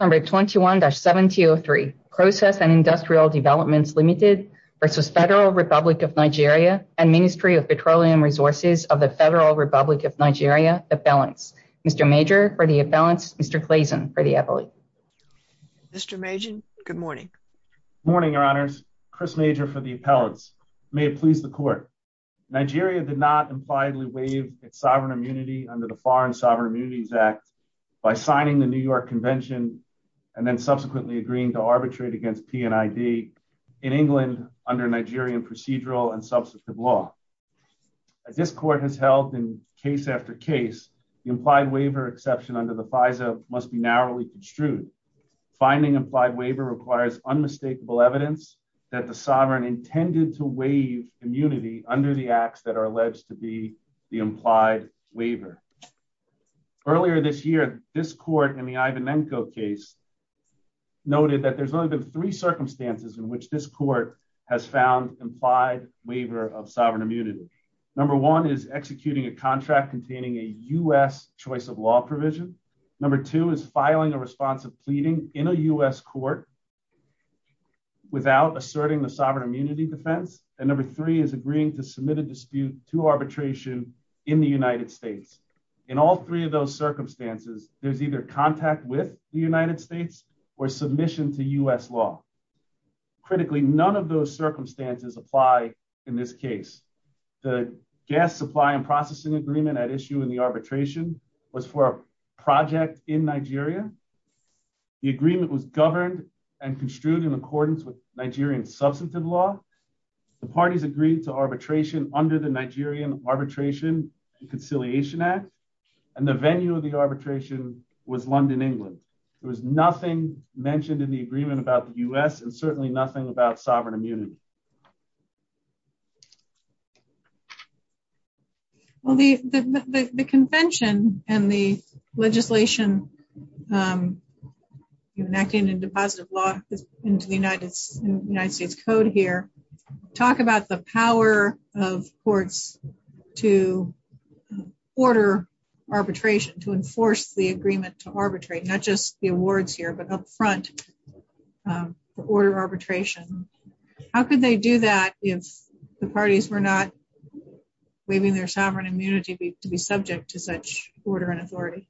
Number 21 7003 process and industrial developments limited versus Federal Republic of Nigeria and Ministry of Petroleum Resources of the Federal Republic of Nigeria the balance. Mr. Major for the appellants Mr. Clayson for the appellate. Mr. Majan good morning. Morning your honors. Chris Major for the appellants. May it please the court. Nigeria did not impliedly waive its Foreign Sovereign Immunities Act by signing the New York Convention and then subsequently agreeing to arbitrate against PNID in England under Nigerian procedural and substantive law. As this court has held in case after case the implied waiver exception under the FISA must be narrowly construed. Finding implied waiver requires unmistakable evidence that the sovereign intended to waive immunity under the acts that are alleged to be the implied waiver. Earlier this year this court in the Ivanenko case noted that there's only been three circumstances in which this court has found implied waiver of sovereign immunity. Number one is executing a contract containing a U.S. choice of law provision. Number two is filing a response of pleading in a U.S. court without asserting the sovereign immunity defense and number three is agreeing to submit a dispute to arbitration in the United States. In all three of those circumstances there's either contact with the United States or submission to U.S. law. Critically none of those circumstances apply in this case. The gas supply and processing agreement at issue in the arbitration was for a project in Nigeria. The agreement was governed and construed in accordance with Nigerian substantive law. The parties agreed to arbitration under the Nigerian arbitration and conciliation act and the venue of the arbitration was London, England. There was nothing mentioned in the agreement about the U.S. and certainly nothing about sovereign immunity. Well, the convention and the legislation you're enacting in deposit of law into the United States code here talk about the power of courts to order arbitration to enforce the agreement to arbitrate not just the awards here but up front um order arbitration. How could they do that if the parties were not waiving their sovereign immunity to be subject to such order and authority?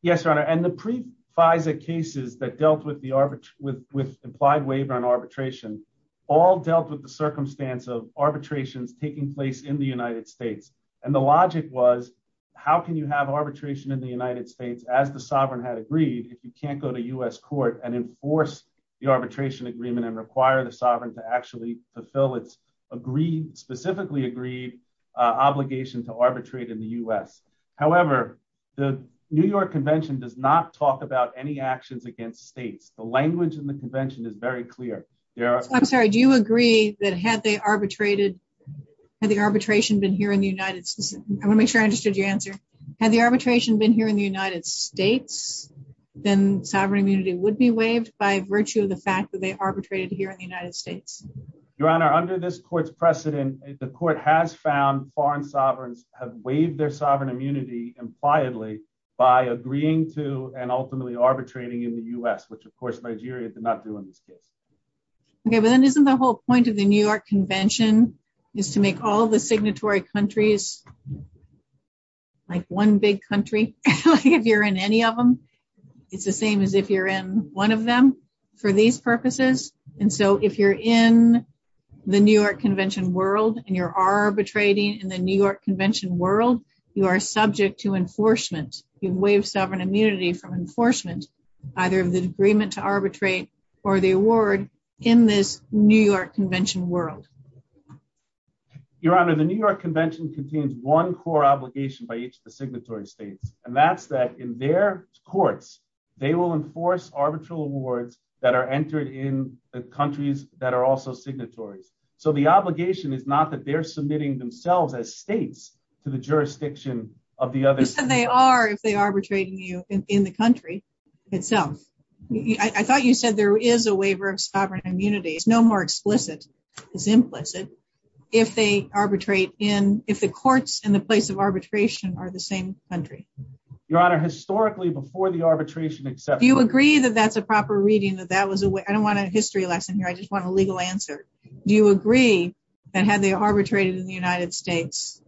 Yes, your honor, and the pre-FISA cases that dealt with the arbitrage with with implied waiver and arbitration all dealt with the circumstance of arbitrations taking place in the United States and the logic was how can you have arbitration in the United States as the sovereign had agreed if you can't go to U.S. court and enforce the arbitration agreement and require the sovereign to actually fulfill its agreed specifically agreed obligation to arbitrate in the U.S. However, the New York Convention does not talk about any actions against states. The language in the convention is very clear. I'm sorry, do you agree that had they arbitrated had the arbitration been here in the United States? I want to make sure I understood your answer. Had the arbitration been here in the United States then sovereign immunity would be waived by virtue of the fact that they arbitrated here in the United States. Your honor, under this court's precedent the court has found foreign sovereigns have waived their sovereign immunity impliedly by agreeing to and ultimately arbitrating in the U.S. which of course Nigeria did not do in this case. Okay, but then isn't the whole point of the New York Convention is to make all the signatory countries like one big country if you're in any of them? It's the same as if you're in one of them for these purposes and so if you're in the New York Convention world and you're arbitrating in the New York Convention world you are subject to enforcement. You waive sovereign immunity from enforcement either of the agreement to arbitrate or the award in this New York Convention world. Your honor, the New York Convention contains one core obligation by each of the signatory states and that's that in their courts they will enforce arbitral awards that are entered in the countries that are also signatories. So the obligation is not that they're submitting themselves as states to the jurisdiction of the other. You said they are if they are arbitrating you in the country itself. I thought you said there is a waiver of sovereign immunity. It's no more explicit as implicit if they arbitrate in if the courts in the place of arbitration are the same country. Your honor, historically before the arbitration. Do you agree that that's a proper reading that that was a way I don't want a history lesson here I just want a legal answer. Do you agree that had they arbitrated in the United States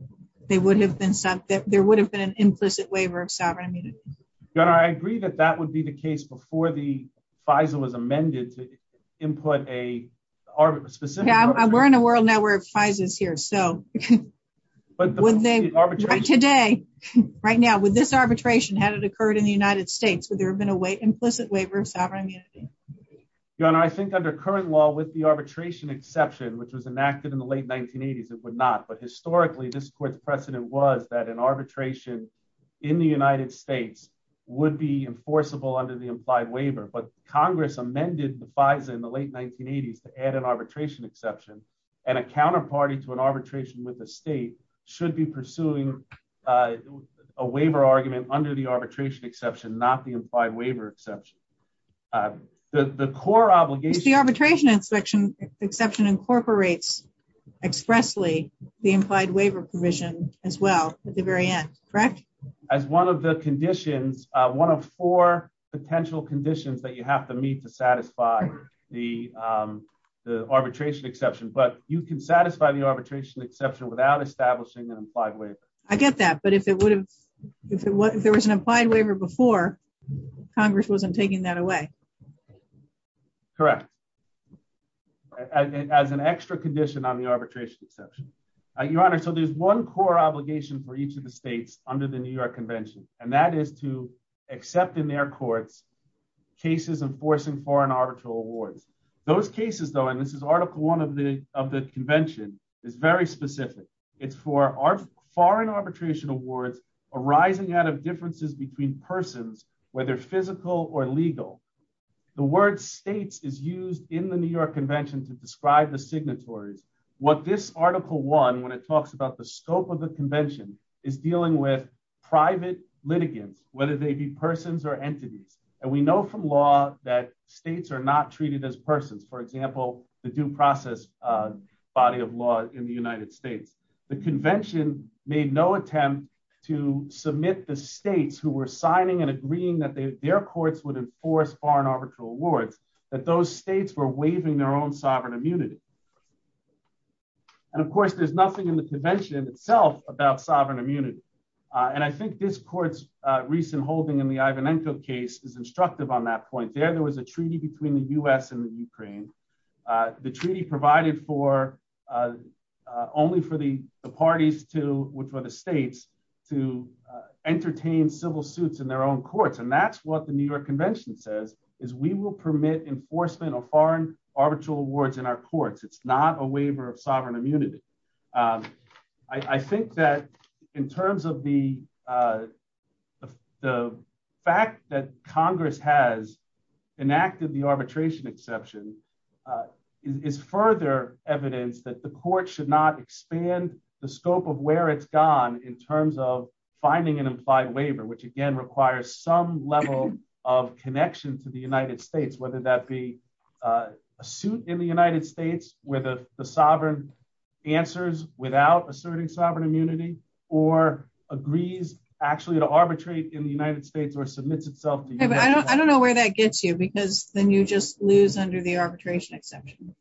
they would have been sent that there would have been an implicit waiver of sovereign immunity? Your honor, I agree that that would be the case before the FISA was amended to input a specific. Yeah we're in a world now where FISA is here so but when they arbitrate today right now with this arbitration had it occurred in the United States would there have been a way implicit waiver of sovereign immunity? Your honor, I think under current law with the arbitration exception which was enacted in the late 1980s it would not but historically this court's precedent was that an arbitration in the United States would be enforceable under the implied waiver but Congress amended the FISA in the late 1980s to add an arbitration with the state should be pursuing a waiver argument under the arbitration exception not the implied waiver exception. The core obligation is the arbitration exception exception incorporates expressly the implied waiver provision as well at the very end correct? As one of the conditions one of four potential conditions that you have to meet to satisfy the arbitration exception but you can satisfy the arbitration exception without establishing an implied waiver. I get that but if it would have if it was there was an implied waiver before Congress wasn't taking that away. Correct as an extra condition on the arbitration exception. Your honor, so there's one core obligation for each of the states under the New York Convention and that is to accept in their courts cases enforcing foreign arbitral awards. Those cases though and this is article one of the of the convention is very specific. It's for our foreign arbitration awards arising out of differences between persons whether physical or legal. The word states is used in the New York Convention to describe the signatories. What this article one when it talks about the scope of the convention is dealing with private litigants whether they be persons or entities and we know from law that states are not treated as persons. For example the due process body of law in the United States. The convention made no attempt to submit the states who were signing and agreeing that their courts would enforce foreign arbitral awards that those states were waiving their own sovereign immunity. And of course there's nothing in the convention itself about sovereign immunity and I think this court's recent holding in the Ivanenko case is instructive on that point. There there was a treaty between the U.S. and the Ukraine. The treaty provided for only for the parties to which were the states to entertain civil suits in their own courts and that's what the New York It's not a waiver of sovereign immunity. I think that in terms of the fact that Congress has enacted the arbitration exception is further evidence that the court should not expand the scope of where it's gone in terms of finding an implied waiver which again requires some level of connection to the United States whether that be a suit in the United States where the sovereign answers without asserting sovereign immunity or agrees actually to arbitrate in the United States or submits itself. I don't know where that gets you because then you just lose under the arbitration exception.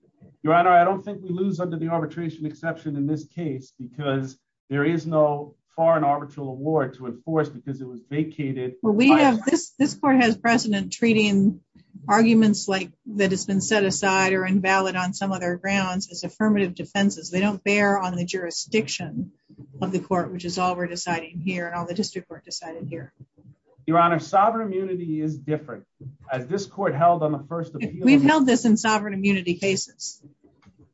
Your honor I don't think we lose under the arbitration exception in this case because there is no foreign arbitral award to enforce because it was vacated. Well we have precedent treating arguments like that it's been set aside or invalid on some other grounds as affirmative defenses. They don't bear on the jurisdiction of the court which is all we're deciding here and all the district court decided here. Your honor sovereign immunity is different as this court held on the first appeal. We've held this in sovereign immunity cases.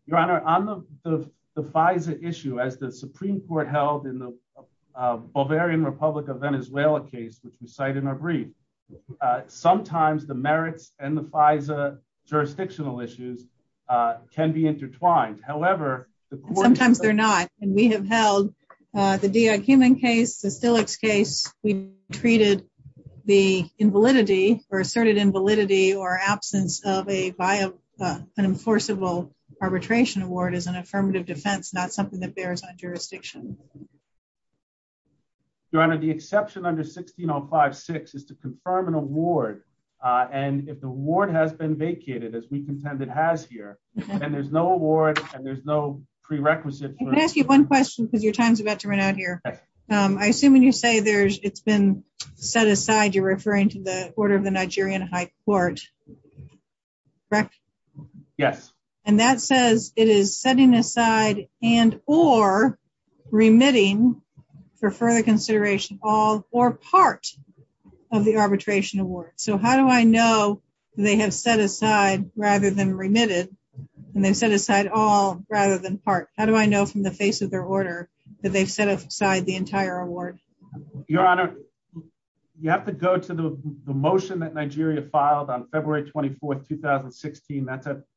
Your honor on the the Pfizer issue as the Supreme Court held in the Republic of Venezuela case which we cite in our brief sometimes the merits and the Pfizer jurisdictional issues can be intertwined. However sometimes they're not and we have held the Diak-Human case, the Stilix case, we treated the invalidity or asserted invalidity or absence of a via an enforceable arbitration award as an affirmative defense not something that bears on here. Your honor the exception under 1605-6 is to confirm an award and if the ward has been vacated as we contend it has here and there's no award and there's no prerequisite. I'm going to ask you one question because your time's about to run out here. I assume when you say there's it's been set aside you're referring to the order of the Nigerian high court correct? Yes. And that says it is setting aside and or remitting for further consideration all or part of the arbitration award. So how do I know they have set aside rather than remitted and they've set aside all rather than part? How do I know from the face of their order that they've set aside the entire award? Your honor you have to go to the the motion that Nigeria filed on February 24, 2016.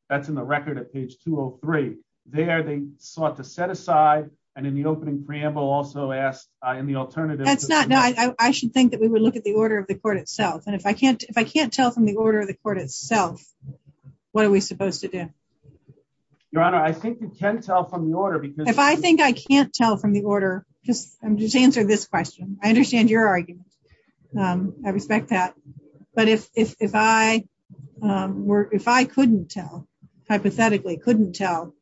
That's a record at page 203. There they sought to set aside and in the opening preamble also asked in the alternative. That's not no I should think that we would look at the order of the court itself and if I can't if I can't tell from the order of the court itself what are we supposed to do? Your honor I think you can tell from the order. If I think I can't tell from the order just I'm just answering this question. I understand your argument. I respect that but if if I um were if I couldn't tell hypothetically couldn't tell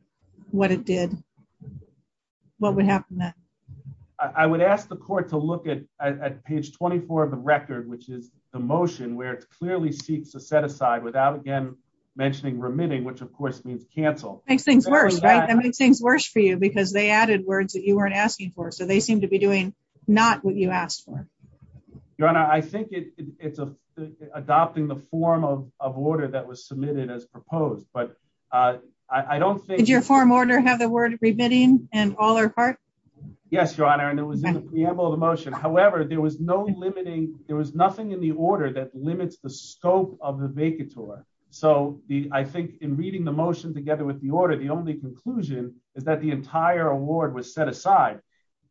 what it did what would happen then? I would ask the court to look at at page 24 of the record which is the motion where it clearly seeks to set aside without again mentioning remitting which of course means cancel. Makes things worse right? That makes things worse for you because they added words that you weren't asking for so they seem to be doing not what you asked for. Your honor I think it it's a adopting the form of of order that was submitted as proposed but uh I don't think. Did your form order have the word remitting and all or part? Yes your honor and it was in the preamble of the motion. However there was no limiting there was nothing in the order that limits the scope of the vacator. So the I think in reading the motion together with the order the only conclusion is that the entire award was set aside.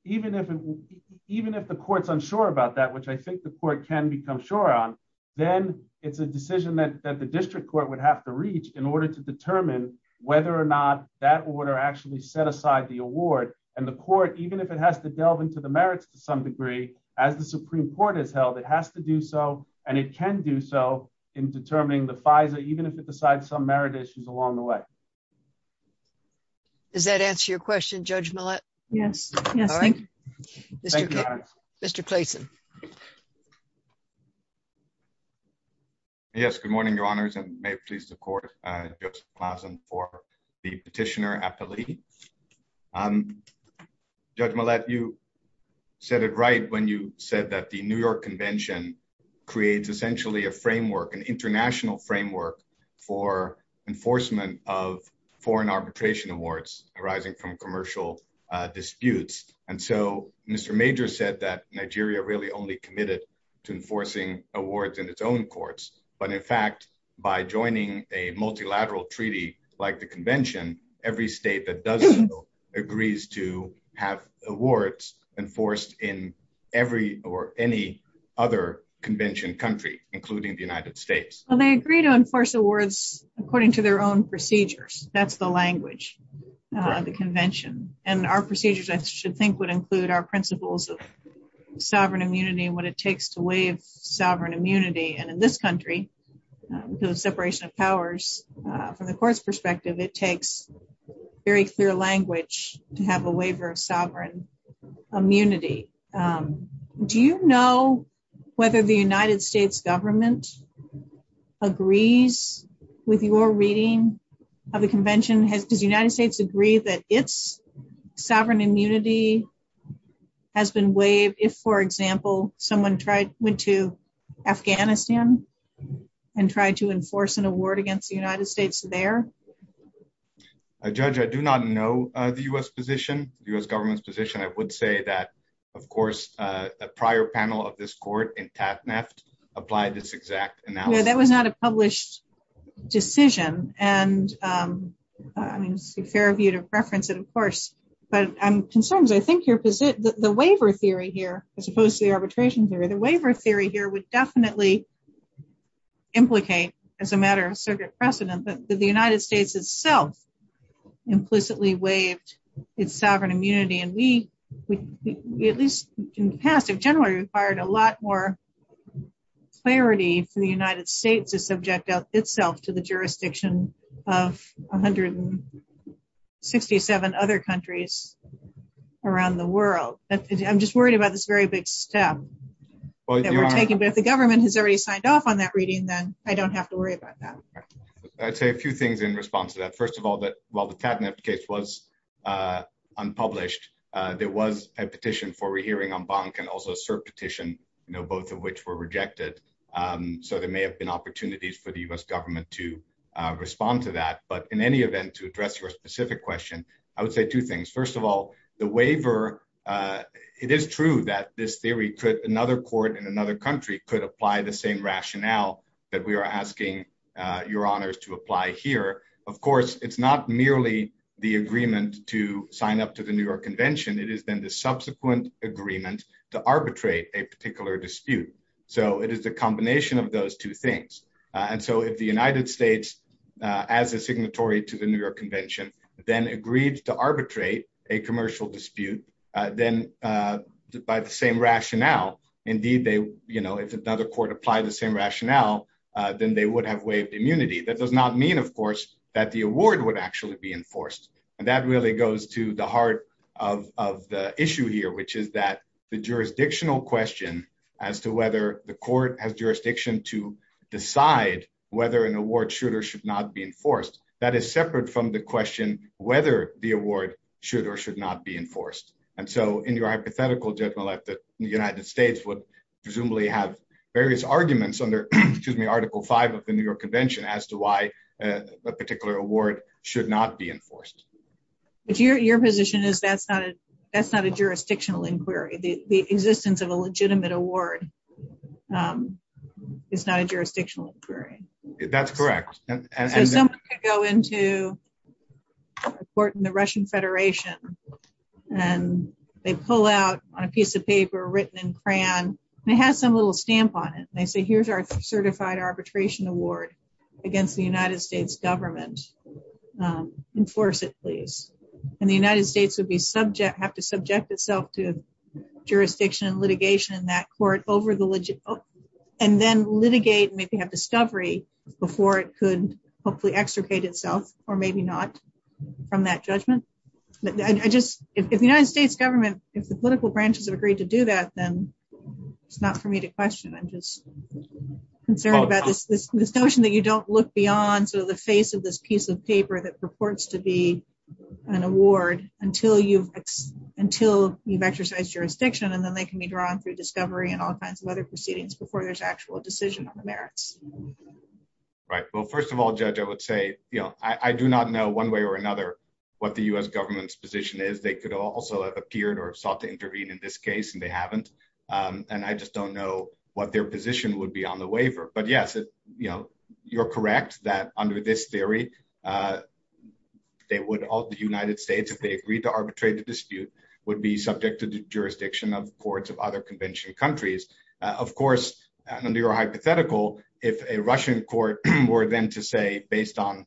Even if it even if the court's unsure about which I think the court can become sure on then it's a decision that that the district court would have to reach in order to determine whether or not that order actually set aside the award and the court even if it has to delve into the merits to some degree as the supreme court has held it has to do so and it can do so in determining the FISA even if it decides some merit issues along the way. Does that answer your question Judge Millett? Yes yes. Mr. Clayson. Yes good morning your honors and may it please the court uh for the petitioner appellee um Judge Millett you said it right when you said that the New York convention creates essentially a framework an international framework for enforcement of foreign arbitration awards arising from commercial disputes and so Mr. Major said that Nigeria really only committed to enforcing awards in its own courts but in fact by joining a multilateral treaty like the convention every state that does so agrees to have awards enforced in every or any other convention country including the United States. Well they agree to enforce awards according to their own procedures that's the language of the convention and our procedures I should think would include our principles of sovereign immunity and what it takes to waive sovereign immunity and in this country because of separation of powers from the court's perspective it takes very clear language to have a waiver of sovereign immunity. Do you know whether the United States government agrees with your reading of the convention has does the United States agree that its sovereign immunity has been waived if for example someone tried went to Afghanistan and tried to enforce an award against the United States there? Judge I do not know uh the U.S. position the U.S. government's position I would say that of course a prior panel of this court in Tatneft applied this exact analysis. Yeah that was not a published decision and um I mean it's a fair view to preference it of course but I'm concerned I think your position the waiver theory here as opposed to the arbitration theory the waiver theory here would definitely implicate as a matter of circuit precedent that the United States itself implicitly waived its sovereign immunity and we at least in the past have generally required a lot more clarity for the United States to subject itself to the jurisdiction of 167 other countries around the world. I'm just worried about this very big step that we're taking but if the government has already signed off on that reading then I don't have to worry about that. I'd say a few things in response to that first of all that while the Tatneft case was uh unpublished uh there was a petition for rehearing en banc and also a cert petition you know both of which were rejected um so there may have been opportunities for the U.S. government to uh respond to that but in any event to address your specific question I would say two things first of all the waiver uh it is true that this theory could another court in another country could apply the same rationale that we are asking uh your honors to apply here of course it's not merely the agreement to sign up to the New York convention it is then the subsequent agreement to arbitrate a particular dispute so it is the combination of those two things and so if the United States uh as a signatory to the New York convention then agreed to arbitrate a commercial dispute uh then uh by the same rationale indeed they you know if another court applied the same rationale uh then they would have waived immunity that does not mean of course that the award would actually be enforced and that really goes to the heart of of the issue here which is that the jurisdictional question as to whether the court has jurisdiction to decide whether an award should or should not be enforced that is separate from the question whether the award should or should not be enforced and so in your hypothetical gentleman that the United States would presumably have various arguments under excuse me article 5 of the New York convention as to why a particular award should not be enforced but your your position is that's not a that's not a jurisdictional inquiry the the existence of a legitimate award um is not a jurisdictional inquiry that's correct and so someone could go into a court in the Russian Federation and they pull out on a piece of paper written in crayon and it has some little stamp on it they say here's our certified arbitration award against the United States government um enforce it please and the United States would be subject have to subject itself to jurisdiction and litigation in that court over the legit and then litigate and maybe have discovery before it could hopefully extricate itself or maybe not from that judgment I just if the United States government if the political branches have agreed to do that then it's not for me to question I'm just concerned about this this notion that you don't look beyond sort of the face of this piece of paper that purports to be an award until you've until you've exercised jurisdiction and then they can be drawn through discovery and all kinds of other proceedings before there's actual decision on the merits right well first of all judge I would say you know I I do not know one way or another what the U.S. government's position is they could also have appeared or sought to intervene in this case and they haven't um and I just don't know what their position would be on the waiver but yes you know you're correct that under this theory uh they would all the United would be subject to the jurisdiction of courts of other convention countries of course under your hypothetical if a Russian court were then to say based on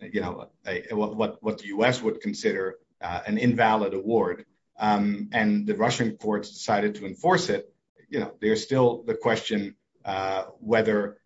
you know what what the U.S. would consider an invalid award um and the Russian courts decided to enforce it you know there's still the question uh whether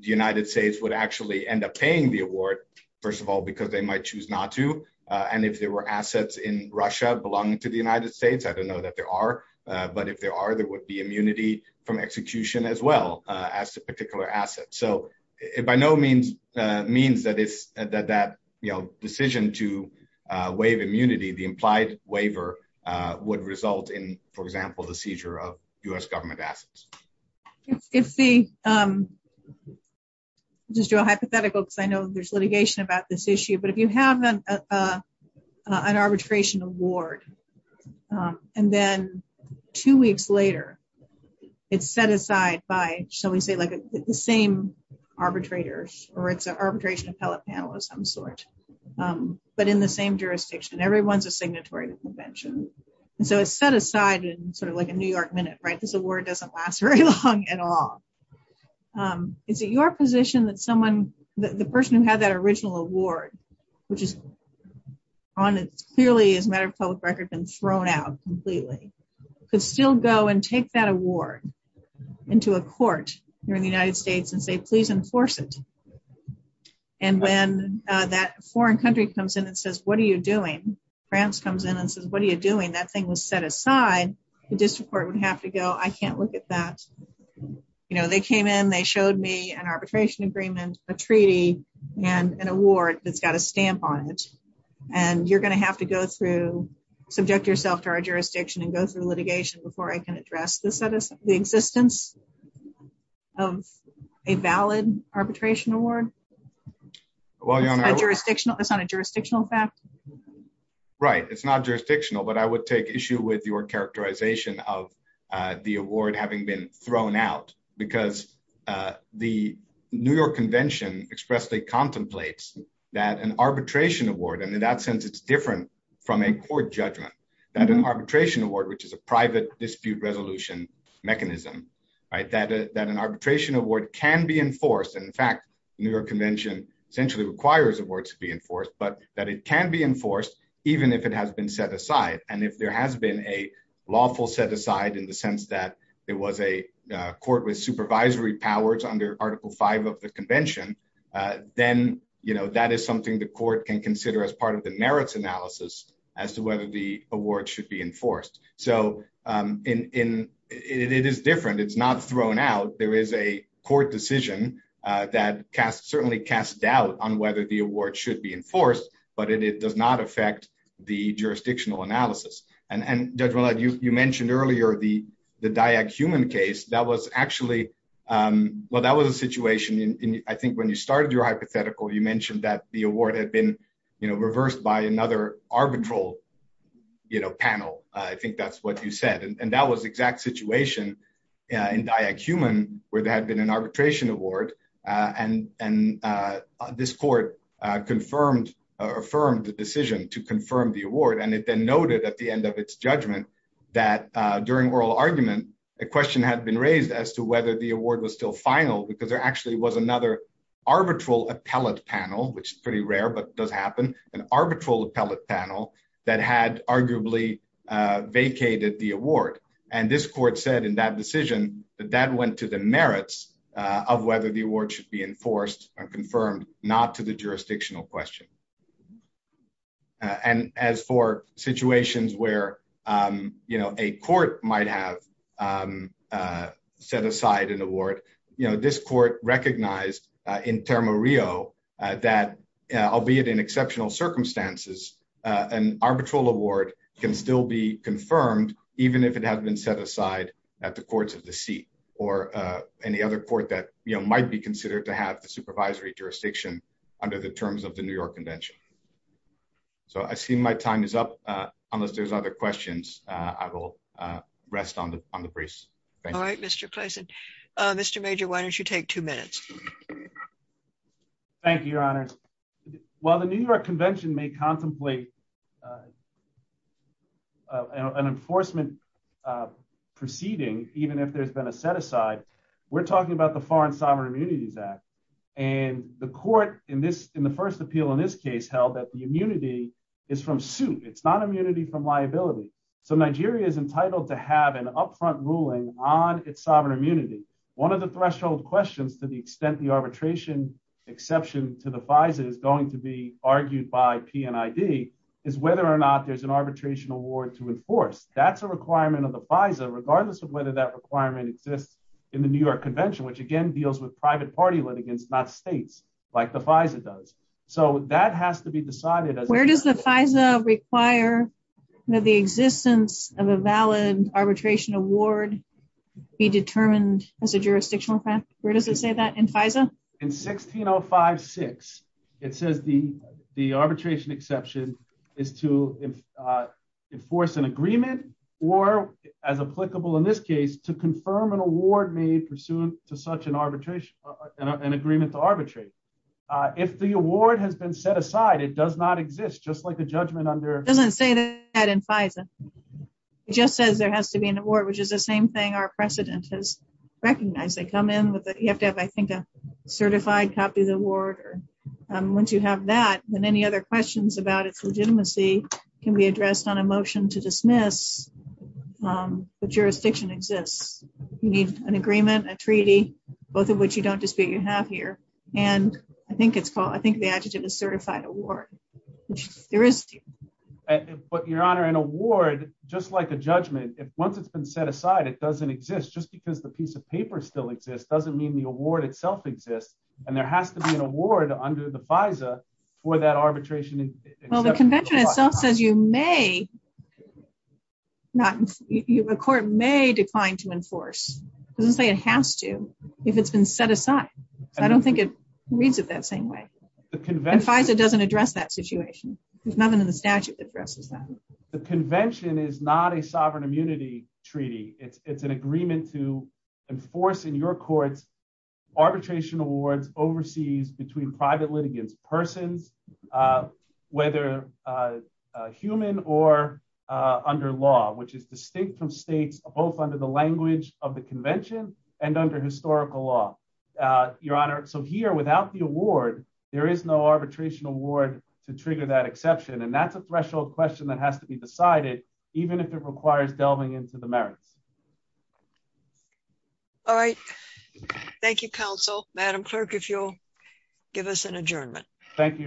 the United States would actually end up paying the award first of all because they might choose not to uh and if there were assets in Russia belonging to the United States I don't know that there are uh but if there are there would be immunity from execution as well uh as to particular assets so it by no means uh means that it's that that you know decision to uh waive immunity the implied waiver uh would result in for example the seizure of U.S. government assets if the um just do a hypothetical because I know there's litigation about this issue but if you have an uh uh an arbitration award um and then two weeks later it's set aside by shall we say like the same arbitrators or it's an arbitration appellate panel of some sort um but in the same jurisdiction everyone's a signatory to convention and so it's set aside in sort of like a New York minute right this award doesn't last very long at all um is it your position that someone the person who had that original award which is on it clearly as a matter of public record been thrown out completely could still go and take that award into a court here in the United States and say please enforce it and when uh that foreign country comes in and says what are you doing France comes in and says what are you doing that thing was set aside the district court would have to go I can't look at that you know they came in they showed me an arbitration agreement a treaty and an award that's got a stamp on it and you're going to have to go through subject yourself to our jurisdiction and go through litigation before I can address the status of the existence of a valid arbitration award well you're on a jurisdictional that's not a jurisdictional fact right it's not jurisdictional but I would take issue with your characterization of uh the award having been thrown out because uh the New York convention expressly contemplates that an arbitration award and in that sense it's different from a court judgment that an arbitration award which is a private dispute resolution mechanism right that that an arbitration award can be enforced and in fact New York convention essentially requires awards to be enforced but that it can be enforced even if it has been set aside and if there has been a lawful set aside in the sense that it was a court with supervisory powers under article 5 of the convention uh then you know that is something the court can consider as part of the merits analysis as to whether the award should be enforced so um in in it is different it's not thrown out there is a court decision uh that cast certainly cast doubt on the jurisdictional analysis and and judge well you you mentioned earlier the the diag human case that was actually um well that was a situation in I think when you started your hypothetical you mentioned that the award had been you know reversed by another arbitral you know panel I think that's what you said and that was exact situation in diag human where there had been an then noted at the end of its judgment that during oral argument a question had been raised as to whether the award was still final because there actually was another arbitral appellate panel which is pretty rare but does happen an arbitral appellate panel that had arguably vacated the award and this court said in that decision that that went to the merits of whether the as for situations where um you know a court might have um uh set aside an award you know this court recognized uh in termo rio that albeit in exceptional circumstances uh an arbitral award can still be confirmed even if it has been set aside at the courts of the seat or uh any other court that you know might be considered to have the supervisory jurisdiction under the terms of new york convention so i see my time is up uh unless there's other questions uh i will uh rest on the on the brace all right mr clason uh mr major why don't you take two minutes thank you your honors while the new york convention may contemplate an enforcement uh proceeding even if there's been a set aside we're talking about the foreign sovereign immunities act and the court in this in the first appeal in this case held that the immunity is from suit it's not immunity from liability so nigeria is entitled to have an upfront ruling on its sovereign immunity one of the threshold questions to the extent the arbitration exception to the visor is going to be argued by p and id is whether or not there's an arbitration award to enforce that's a requirement of the visor regardless of whether that requirement exists in the new york convention which again deals with private party litigants not states like the fiza does so that has to be decided where does the fiza require the existence of a valid arbitration award be determined as a jurisdictional fact where does it say that in fiza in 16056 it says the the arbitration exception is to enforce an agreement or as applicable in this case to confirm an award made pursuant to such an arbitration an agreement to arbitrate uh if the award has been set aside it does not exist just like the judgment under doesn't say that in fiza it just says there has to be an award which is the same thing our precedent has recognized they come in with you have to have i think a certified copy of the award or once you have that then any other questions about its legitimacy can be addressed on a motion to dismiss um the jurisdiction exists you need an agreement a treaty both of which you don't dispute you have here and i think it's called i think the adjective is certified award which there is but your honor an award just like a judgment if once it's been set aside it doesn't exist just because the piece of paper still exists doesn't mean the award itself exists and there has to be an award under the to enforce doesn't say it has to if it's been set aside so i don't think it reads it that same way the convention doesn't address that situation there's nothing in the statute that addresses that the convention is not a sovereign immunity treaty it's it's an agreement to enforce in your courts arbitration awards overseas between private litigants persons uh whether uh human or uh under law which is distinct from states both under the language of the convention and under historical law uh your honor so here without the award there is no arbitration award to trigger that exception and that's a threshold question that has to be decided even if it requires delving into the merits all right thank you counsel madam clerk if you'll give us an adjournment thank you your honors